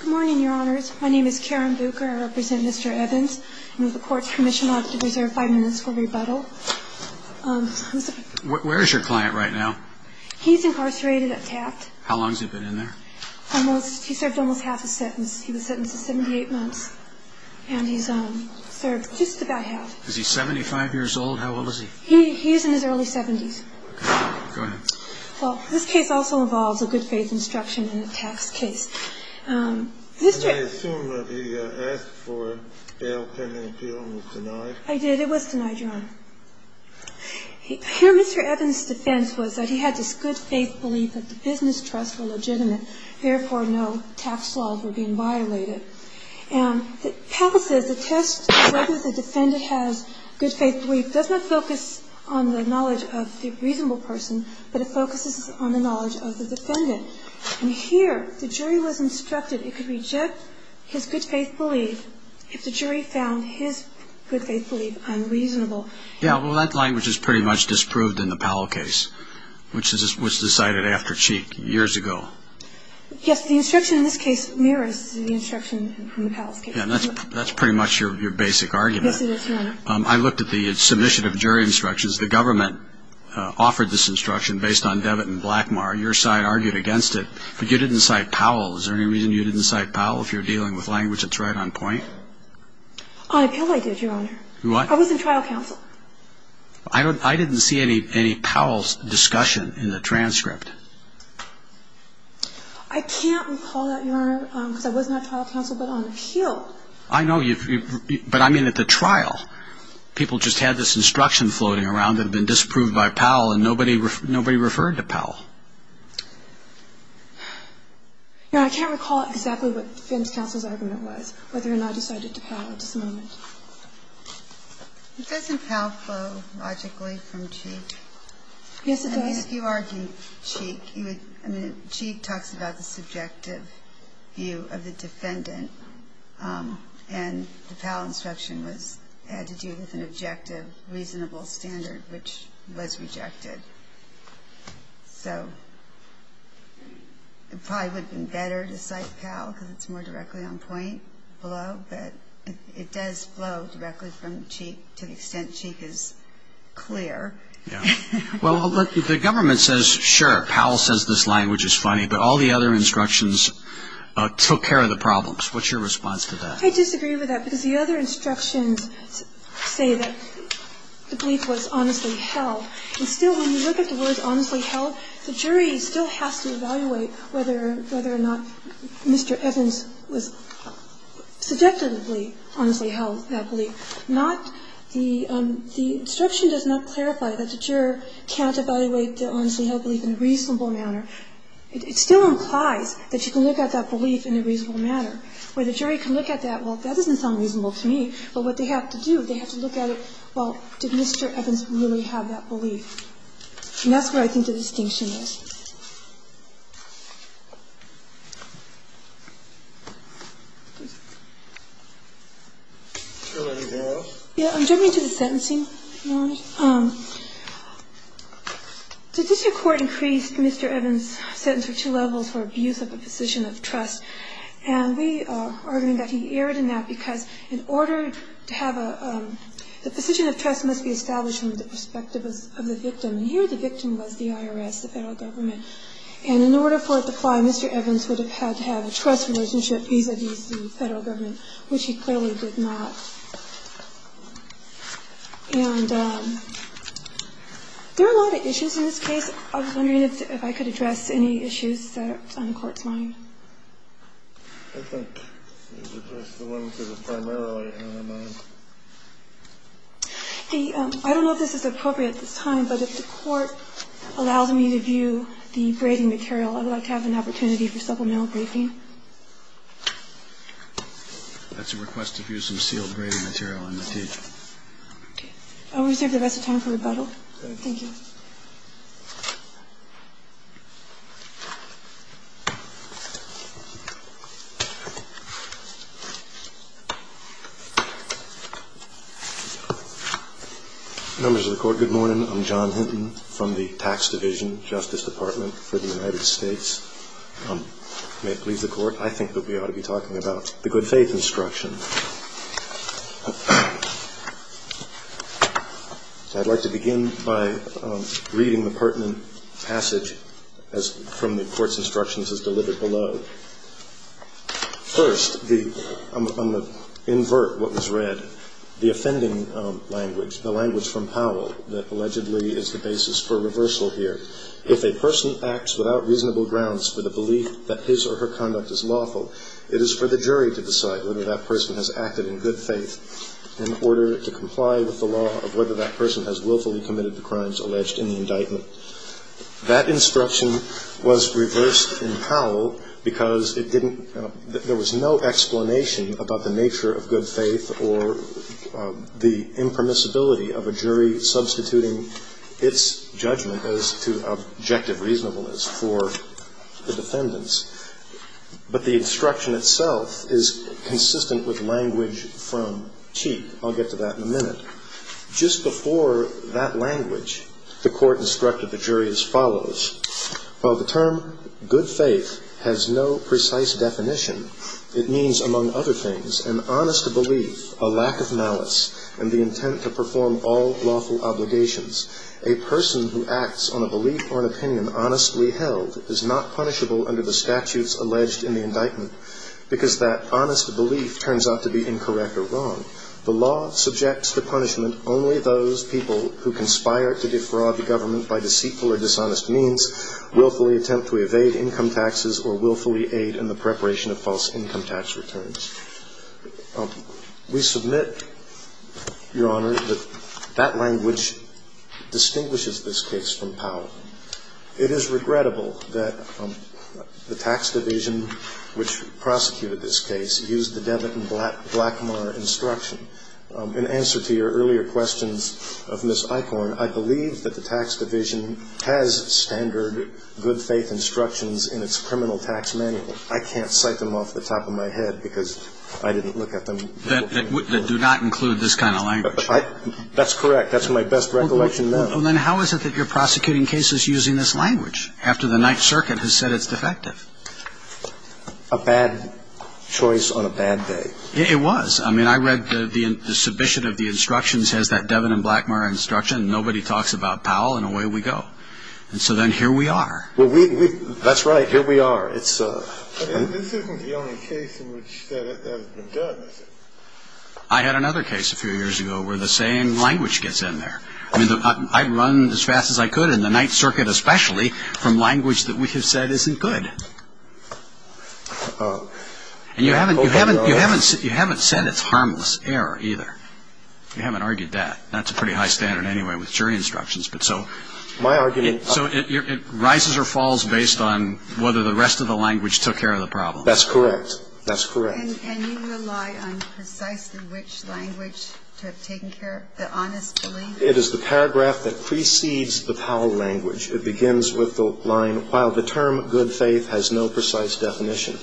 Good morning, your honors. My name is Karen Bucher. I represent Mr. Evans. I'm with the Court's Commission Office to reserve five minutes for rebuttal. Where is your client right now? He's incarcerated at Taft. How long has he been in there? He served almost half his sentence. He was sentenced to 78 months. And he's served just about half. Is he 75 years old? How old is he? He's in his early 70s. Go ahead. Well, this case also involves a good-faith instruction in a Taft case. And I assume that the ask for bail pending appeal was denied? I did. It was denied, your honor. Mr. Evans' defense was that he had this good-faith belief that the business trusts were legitimate, therefore no Taft's laws were being violated. And Powell says the test of whether the defendant has good-faith belief does not focus on the knowledge of the reasonable person, but it focuses on the knowledge of the defendant. And here, the jury was instructed it could reject his good-faith belief if the jury found his good-faith belief unreasonable. Yeah, well, that language is pretty much disproved in the Powell case, which was decided after Cheek years ago. Yes, the instruction in this case mirrors the instruction from the Powell case. Yeah, and that's pretty much your basic argument. Yes, it is, your honor. I looked at the submission of jury instructions. The government offered this instruction based on Debit and Blackmar. Your side argued against it, but you didn't cite Powell. Is there any reason you didn't cite Powell? If you're dealing with language that's right on point? On appeal, I did, your honor. What? I was in trial counsel. I didn't see any Powell's discussion in the transcript. I can't recall that, your honor, because I was not trial counsel, but on appeal. I know, but I mean at the trial. People just had this instruction floating around that had been disproved by Powell, and nobody referred to Powell. Your honor, I can't recall exactly what defense counsel's argument was, whether or not I decided to Powell at this moment. Doesn't Powell flow logically from Cheek? Yes, it does. I mean, if you argue Cheek, I mean, Cheek talks about the subjective view of the defendant, and the Powell instruction had to do with an objective, reasonable standard, which was rejected. So it probably would have been better to cite Powell because it's more directly on point below, but it does flow directly from Cheek to the extent Cheek is clear. Yeah. Well, look, the government says, sure, Powell says this language is funny, but all the other instructions took care of the problems. What's your response to that? I disagree with that because the other instructions say that the plea was honestly held. And still, when you look at the words honestly held, the jury still has to evaluate whether or not Mr. Evans was subjectively honestly held that plea. The instruction does not clarify that the juror can't evaluate the honestly held plea in a reasonable manner. It still implies that you can look at that belief in a reasonable manner. Where the jury can look at that, well, that doesn't sound reasonable to me. But what they have to do, they have to look at it, well, did Mr. Evans really have that belief? And that's where I think the distinction is. Yeah, I'm jumping to the sentencing. The district court increased Mr. Evans' sentence for two levels for abuse of a position of trust. And we are arguing that he erred in that because in order to have a – the trust must be established from the perspective of the victim. And here the victim was the IRS, the federal government. And in order for it to apply, Mr. Evans would have had to have a trust relationship vis-a-vis the federal government, which he clearly did not. And there are a lot of issues in this case. I was wondering if I could address any issues that are on the Court's mind. I don't know if this is appropriate at this time, but if the Court allows me to view the braiding material, I would like to have an opportunity for supplemental briefing. That's a request to view some sealed braiding material on the T. I'll reserve the rest of time for rebuttal. Thank you. Members of the Court, good morning. I'm John Hinton from the Tax Division, Justice Department for the United States. May it please the Court, I think that we ought to be talking about the good faith instruction. I'd like to begin by reading the pertinent passage from the Court's instructions as delivered below. First, I'm going to invert what was read. The offending language, the language from Powell that allegedly is the basis for reversal here. If a person acts without reasonable grounds for the belief that his or her conduct is lawful, it is for the jury to decide whether that person has acted in good faith in order to comply with the law of whether that person has willfully committed the crimes alleged in the indictment. That instruction was reversed in Powell because it didn't – there was no explanation about the nature of good faith or the impermissibility of a jury substituting its judgment as to objective reasonableness for the defendants. But the instruction itself is consistent with language from Cheek. I'll get to that in a minute. Just before that language, the Court instructed the jury as follows. While the term good faith has no precise definition, it means, among other things, an honest belief, a lack of malice, and the intent to perform all lawful obligations. A person who acts on a belief or an opinion honestly held is not punishable under the statutes alleged in the indictment because that honest belief turns out to be incorrect or wrong. The law subjects to punishment only those people who conspire to defraud the government by deceitful or dishonest means, willfully attempt to evade income taxes, or willfully aid in the preparation of false income tax returns. We submit, Your Honor, that that language distinguishes this case from Powell. It is regrettable that the tax division which prosecuted this case used the Devlin and Blackmar instruction. In answer to your earlier questions of Ms. Eichorn, I believe that the tax division has standard good faith instructions in its criminal tax manual. I can't cite them off the top of my head because I didn't look at them. They do not include this kind of language. That's correct. That's my best recollection now. Then how is it that you're prosecuting cases using this language after the Ninth Circuit has said it's defective? A bad choice on a bad day. It was. I mean, I read the submission of the instructions has that Devlin and Blackmar instruction. Nobody talks about Powell, and away we go. And so then here we are. That's right. Here we are. This isn't the only case in which that has been done. I had another case a few years ago where the same language gets in there. I mean, I run as fast as I could in the Ninth Circuit especially from language that we have said isn't good. And you haven't said it's harmless error either. You haven't argued that. That's a pretty high standard anyway with jury instructions. But so it rises or falls based on whether the rest of the language took care of the problem. That's correct. That's correct. And you rely on precisely which language to have taken care of the honest belief? It is the paragraph that precedes the Powell language. It begins with the line, while the term good faith has no precise definition.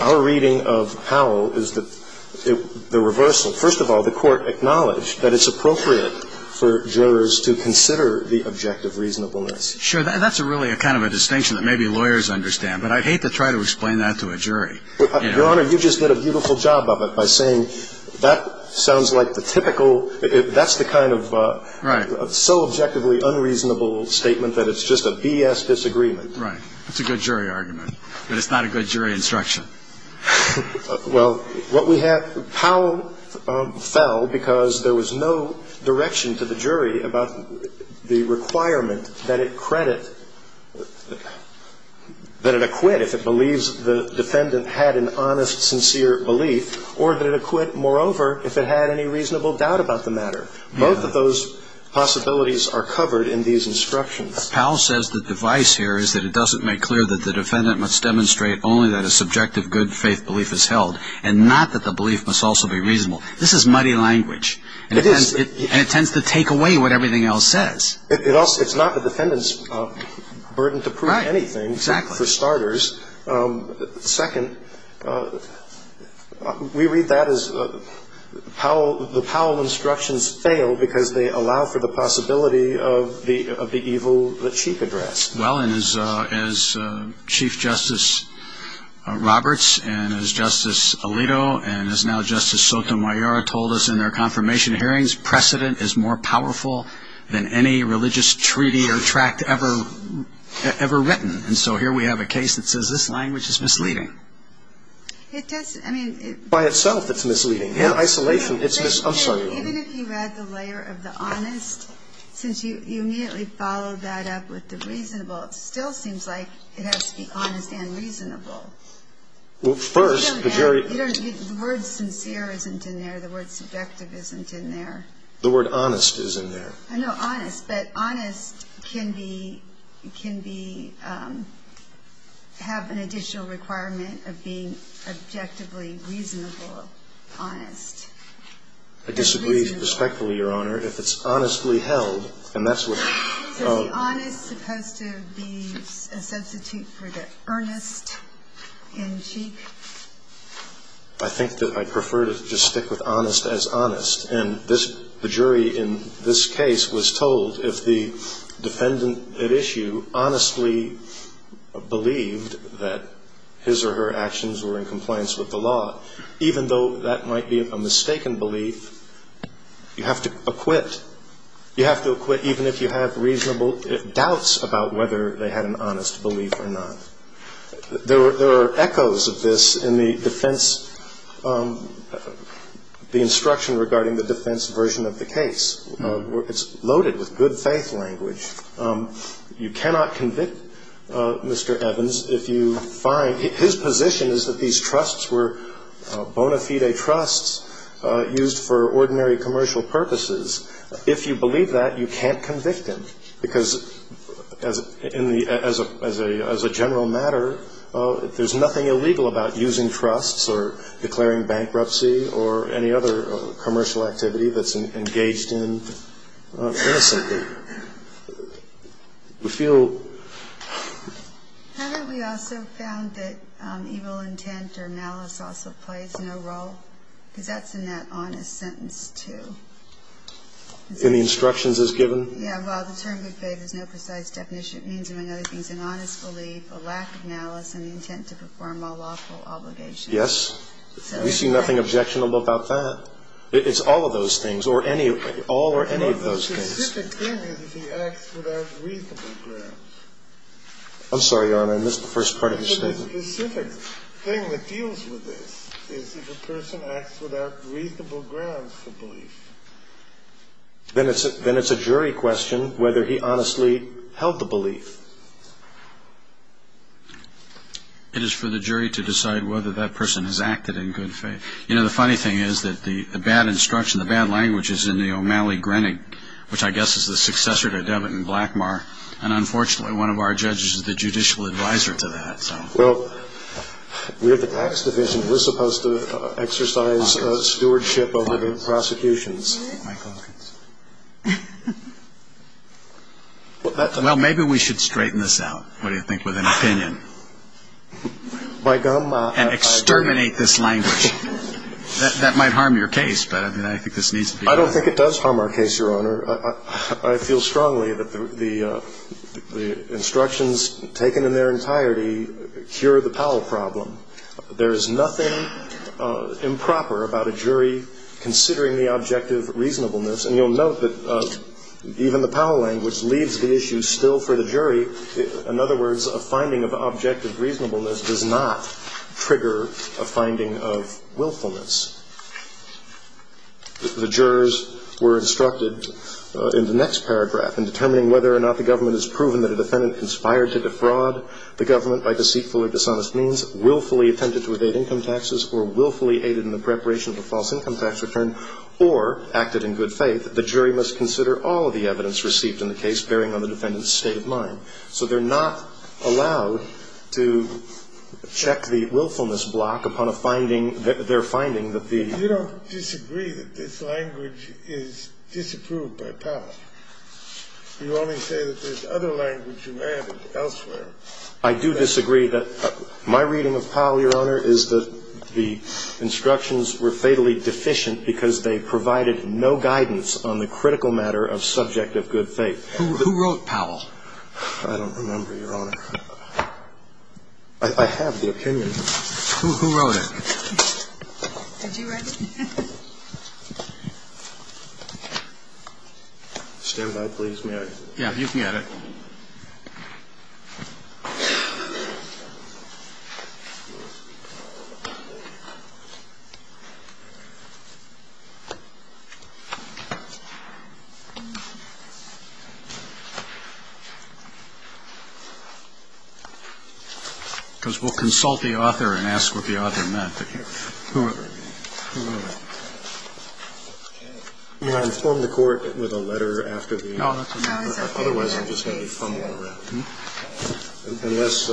Our reading of Powell is the reversal. First of all, the Court acknowledged that it's appropriate for jurors to consider the objective reasonableness. Sure. That's really kind of a distinction that maybe lawyers understand. But I'd hate to try to explain that to a jury. Your Honor, you just did a beautiful job of it by saying that sounds like the typical, that's the kind of so objectively unreasonable statement that it's just a BS disagreement. Right. It's a good jury argument. But it's not a good jury instruction. Well, what we have, Powell fell because there was no direction to the jury about the requirement that it credit, that it acquit if it believes the defendant had an honest, sincere belief, or that it acquit, moreover, if it had any reasonable doubt about the matter. Both of those possibilities are covered in these instructions. Powell says the device here is that it doesn't make clear that the defendant must demonstrate only that a subjective good faith belief is held, and not that the belief must also be reasonable. This is muddy language. It is. And it tends to take away what everything else says. It's not the defendant's burden to prove anything. Right, exactly. For starters. Second, we read that as the Powell instructions fail because they allow for the possibility of the evil that she addressed. Well, and as Chief Justice Roberts and as Justice Alito and as now Justice Sotomayor told us in their confirmation hearings, precedent is more powerful than any religious treaty or tract ever written. And so here we have a case that says this language is misleading. It does. I mean. By itself, it's misleading. In isolation, it's misleading. Even if you add the layer of the honest, since you immediately followed that up with the reasonable, it still seems like it has to be honest and reasonable. Well, first, the jury. The word sincere isn't in there. The word subjective isn't in there. The word honest is in there. No, honest. But honest can be, can be, have an additional requirement of being objectively reasonable. Honest. I disagree respectfully, Your Honor. If it's honestly held, and that's what. So is the honest supposed to be a substitute for the earnest in Cheek? I think that I prefer to just stick with honest as honest. And the jury in this case was told if the defendant at issue honestly believed that his or her actions were in compliance with the law, even though that might be a mistaken belief, you have to acquit. You have to acquit even if you have reasonable doubts about whether they had an honest belief or not. There are echoes of this in the defense, the instruction regarding the defense version of the case. It's loaded with good faith language. You cannot convict Mr. Evans if you find, his position is that these trusts were bona fide trusts used for ordinary commercial purposes. If you believe that, you can't convict him. Because as a general matter, there's nothing illegal about using trusts or declaring bankruptcy or any other commercial activity that's engaged in innocently. We feel. Haven't we also found that evil intent or malice also plays no role? Because that's in that honest sentence, too. In the instructions as given? Yeah, well, the term good faith has no precise definition. It means, among other things, an honest belief, a lack of malice, and the intent to perform all lawful obligations. Yes. We see nothing objectionable about that. It's all of those things, or any of those things. The specific thing is if he acts without reasonable grounds. I'm sorry, Your Honor. I missed the first part of your statement. The specific thing that deals with this is if a person acts without reasonable grounds for belief. Then it's a jury question whether he honestly held the belief. It is for the jury to decide whether that person has acted in good faith. You know, the funny thing is that the bad instruction, the bad language is in the O'Malley-Grenig, which I guess is the successor to Debit and Blackmar. And unfortunately, one of our judges is the judicial advisor to that. Well, we're the tax division. We're supposed to exercise stewardship over the prosecutions. Well, maybe we should straighten this out, what do you think, with an opinion. And exterminate this language. That might harm your case, but I think this needs to be done. I don't think it does harm our case, Your Honor. I feel strongly that the instructions taken in their entirety cure the Powell problem. There is nothing improper about a jury considering the objective reasonableness. And you'll note that even the Powell language leaves the issue still for the jury. In other words, a finding of objective reasonableness does not trigger a finding of willfulness. The jurors were instructed in the next paragraph, in determining whether or not the government has proven that a defendant conspired to defraud the government by deceitful or dishonest means, willfully attempted to evade income taxes, or willfully aided in the preparation of a false income tax return, or acted in good faith, the jury must consider all of the evidence received in the case, bearing on the defendant's state of mind. So they're not allowed to check the willfulness block upon a finding that they're finding that the ---- You don't disagree that this language is disapproved by Powell. You only say that there's other language you added elsewhere. I do disagree. My reading of Powell, Your Honor, is that the instructions were fatally deficient because they provided no guidance on the critical matter of subject of good faith. Who wrote Powell? I don't remember, Your Honor. I have the opinion. Who wrote it? Did you write it? Stand by, please. Yeah, you can get it. Because we'll consult the author and ask what the author meant. Who wrote it? May I inform the Court with a letter after the ---- No, that's okay. Otherwise I'm just going to be fumbling around. Unless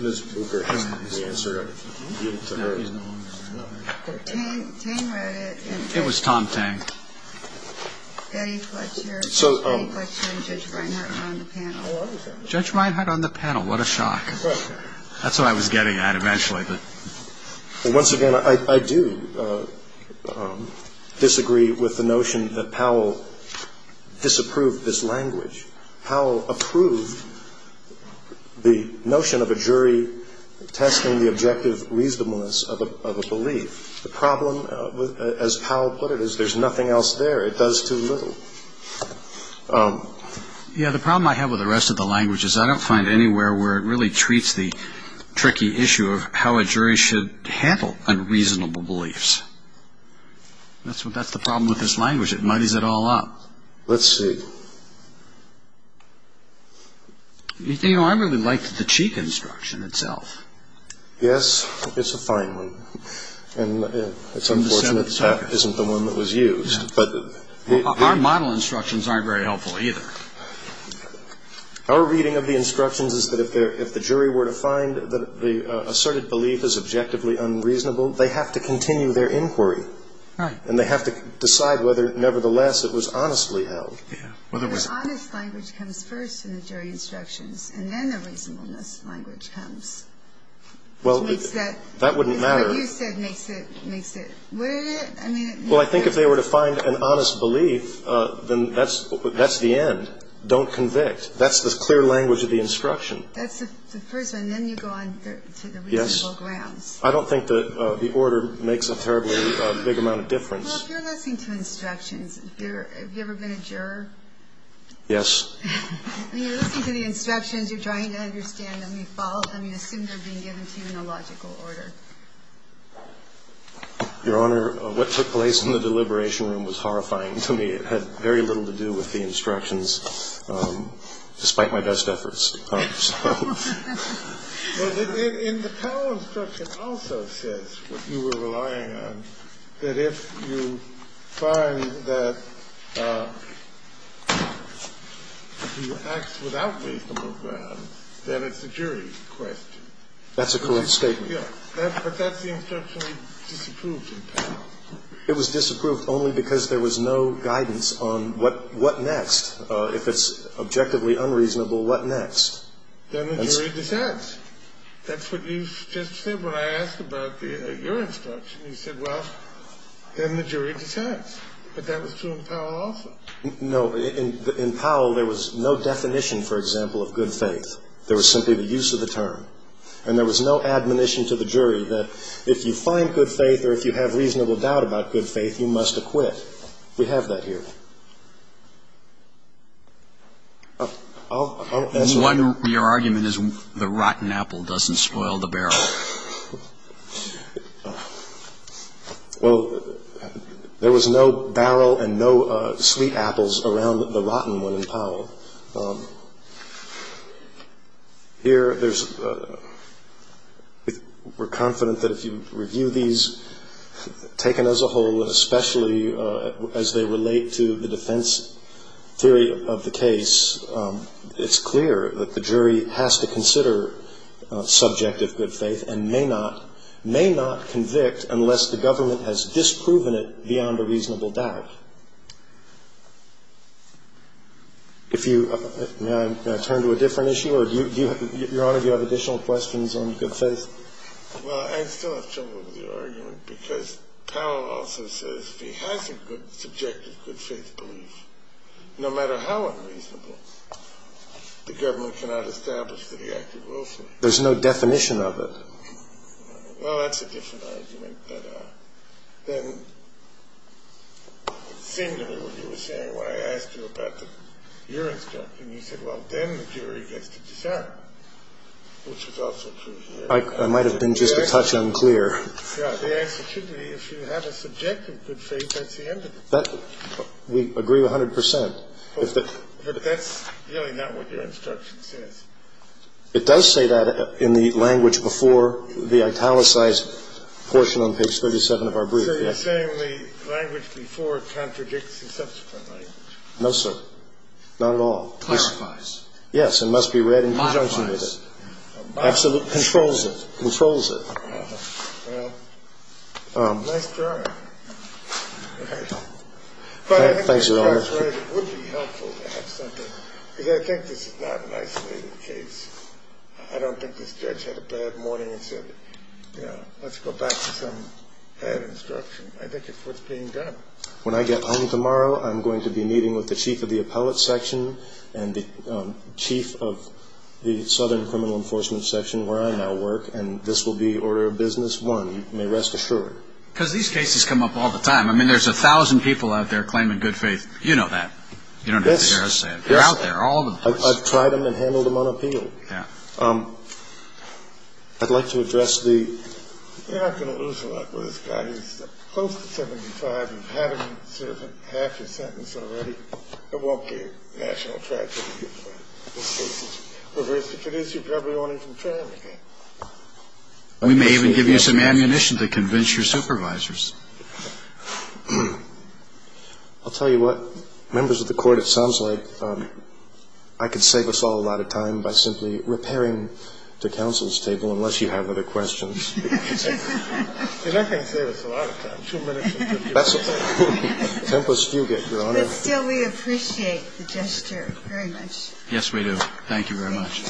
Ms. Booker has the answer to her. Tang wrote it. It was Tom Tang. Eddie Fletcher and Judge Reinhardt are on the panel. Judge Reinhardt on the panel. What a shock. That's what I was getting at eventually. Once again, I do disagree with the notion that Powell disapproved this language. Powell approved the notion of a jury testing the objective reasonableness of a belief. The problem, as Powell put it, is there's nothing else there. It does too little. Yeah, the problem I have with the rest of the language is I don't find anywhere where it really treats the tricky issue of how a jury should handle unreasonable beliefs. That's the problem with this language. It muddies it all up. Let's see. You know, I really liked the Cheek instruction itself. Yes, it's a fine one. And it's unfortunate that that isn't the one that was used. Our model instructions aren't very helpful either. Our reading of the instructions is that if the jury were to find that the asserted belief is objectively unreasonable, they have to continue their inquiry. Right. And they have to decide whether, nevertheless, it was honestly held. Yeah. The honest language comes first in the jury instructions, and then the reasonableness language comes. Well, that wouldn't matter. What you said makes it. Well, I think if they were to find an honest belief, then that's the end. Don't convict. That's the clear language of the instruction. That's the first one. Then you go on to the reasonable grounds. Yes. I don't think that the order makes a terribly big amount of difference. Well, if you're listening to instructions, have you ever been a juror? Yes. When you're listening to the instructions, you're trying to understand any fault. I mean, assume they're being given to you in a logical order. Your Honor, what took place in the deliberation room was horrifying to me. It had very little to do with the instructions, despite my best efforts. Well, in the Powell instruction also says what you were relying on, that if you find that he acts without reasonable grounds, then it's a jury question. That's a correct statement. Yes. But that's the instruction disapproved in Powell. It was disapproved only because there was no guidance on what next. If it's objectively unreasonable, what next? Then the jury decides. That's what you just said when I asked about your instruction. You said, well, then the jury decides. But that was true in Powell also. No. In Powell, there was no definition, for example, of good faith. There was simply the use of the term. And there was no admonition to the jury that if you find good faith or if you have a reasonable doubt about good faith, you must acquit. We have that here. Your argument is the rotten apple doesn't spoil the barrel. Well, there was no barrel and no sweet apples around the rotten one in Powell. Here, there's we're confident that if you review these taken as a whole, especially as they relate to the defense theory of the case, it's clear that the jury has to consider subject of good faith and may not, may not convict unless the government has disproven it beyond a reasonable doubt. If you, may I turn to a different issue? Your Honor, do you have additional questions on good faith? Well, I still have trouble with your argument because Powell also says if he has a good, subjective good faith belief, no matter how unreasonable, the government cannot establish that he acted willfully. There's no definition of it. Well, that's a different argument. Then it seemed to me what you were saying when I asked you about your instruction, you said, well, then the jury gets to decide, which is also true here. I might have been just a touch unclear. Yeah. The answer should be if you have a subjective good faith, that's the end of it. We agree 100%. But that's really not what your instruction says. It does say that in the language before the italicized portion on page 37 of our brief. So you're saying the language before contradicts the subsequent language. No, sir. Not at all. Classifies. It must be read in conjunction with it. Modifies. Controls it. Well, nice drawing. Thanks, Your Honor. It would be helpful to have something, because I think this is not an isolated case. I don't think this judge had a bad morning and said, you know, let's go back to some bad instruction. I think it's worth being done. When I get home tomorrow, I'm going to be meeting with the chief of the appellate section and the chief of the southern criminal enforcement section where I now work, and this will be order of business one, you may rest assured. Because these cases come up all the time. I mean, there's 1,000 people out there claiming good faith. You know that. You don't have to hear us say it. Yes. They're out there, all of them. I've tried them and handled them unappealed. Yeah. I'd like to address the... You're not going to lose a lot with this guy. He's close to 75. You've had him serve half your sentence already. It won't be a national tragedy. This case is... We may even give you some ammunition to convince your supervisors. I'll tell you what. Members of the Court, it sounds like I could save us all a lot of time by simply repairing the counsel's table unless you have other questions. And I can save us a lot of time, two minutes and 50 seconds. Tempest-Fugate, Your Honor. But still, we appreciate the gesture very much. Yes, we do. Thank you very much.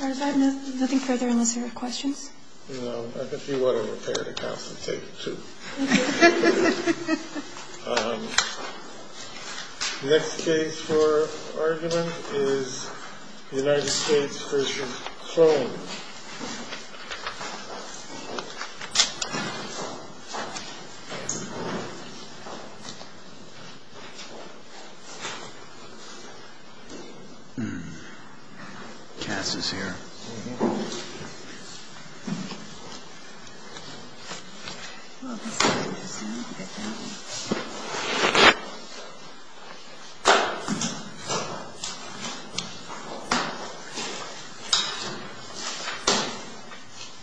All right. If I have nothing further, unless there are questions? No. I can see why don't repair the counsel's table, too. Okay. The next case for argument is the United States v. Sloan. Cass is here. Thank you.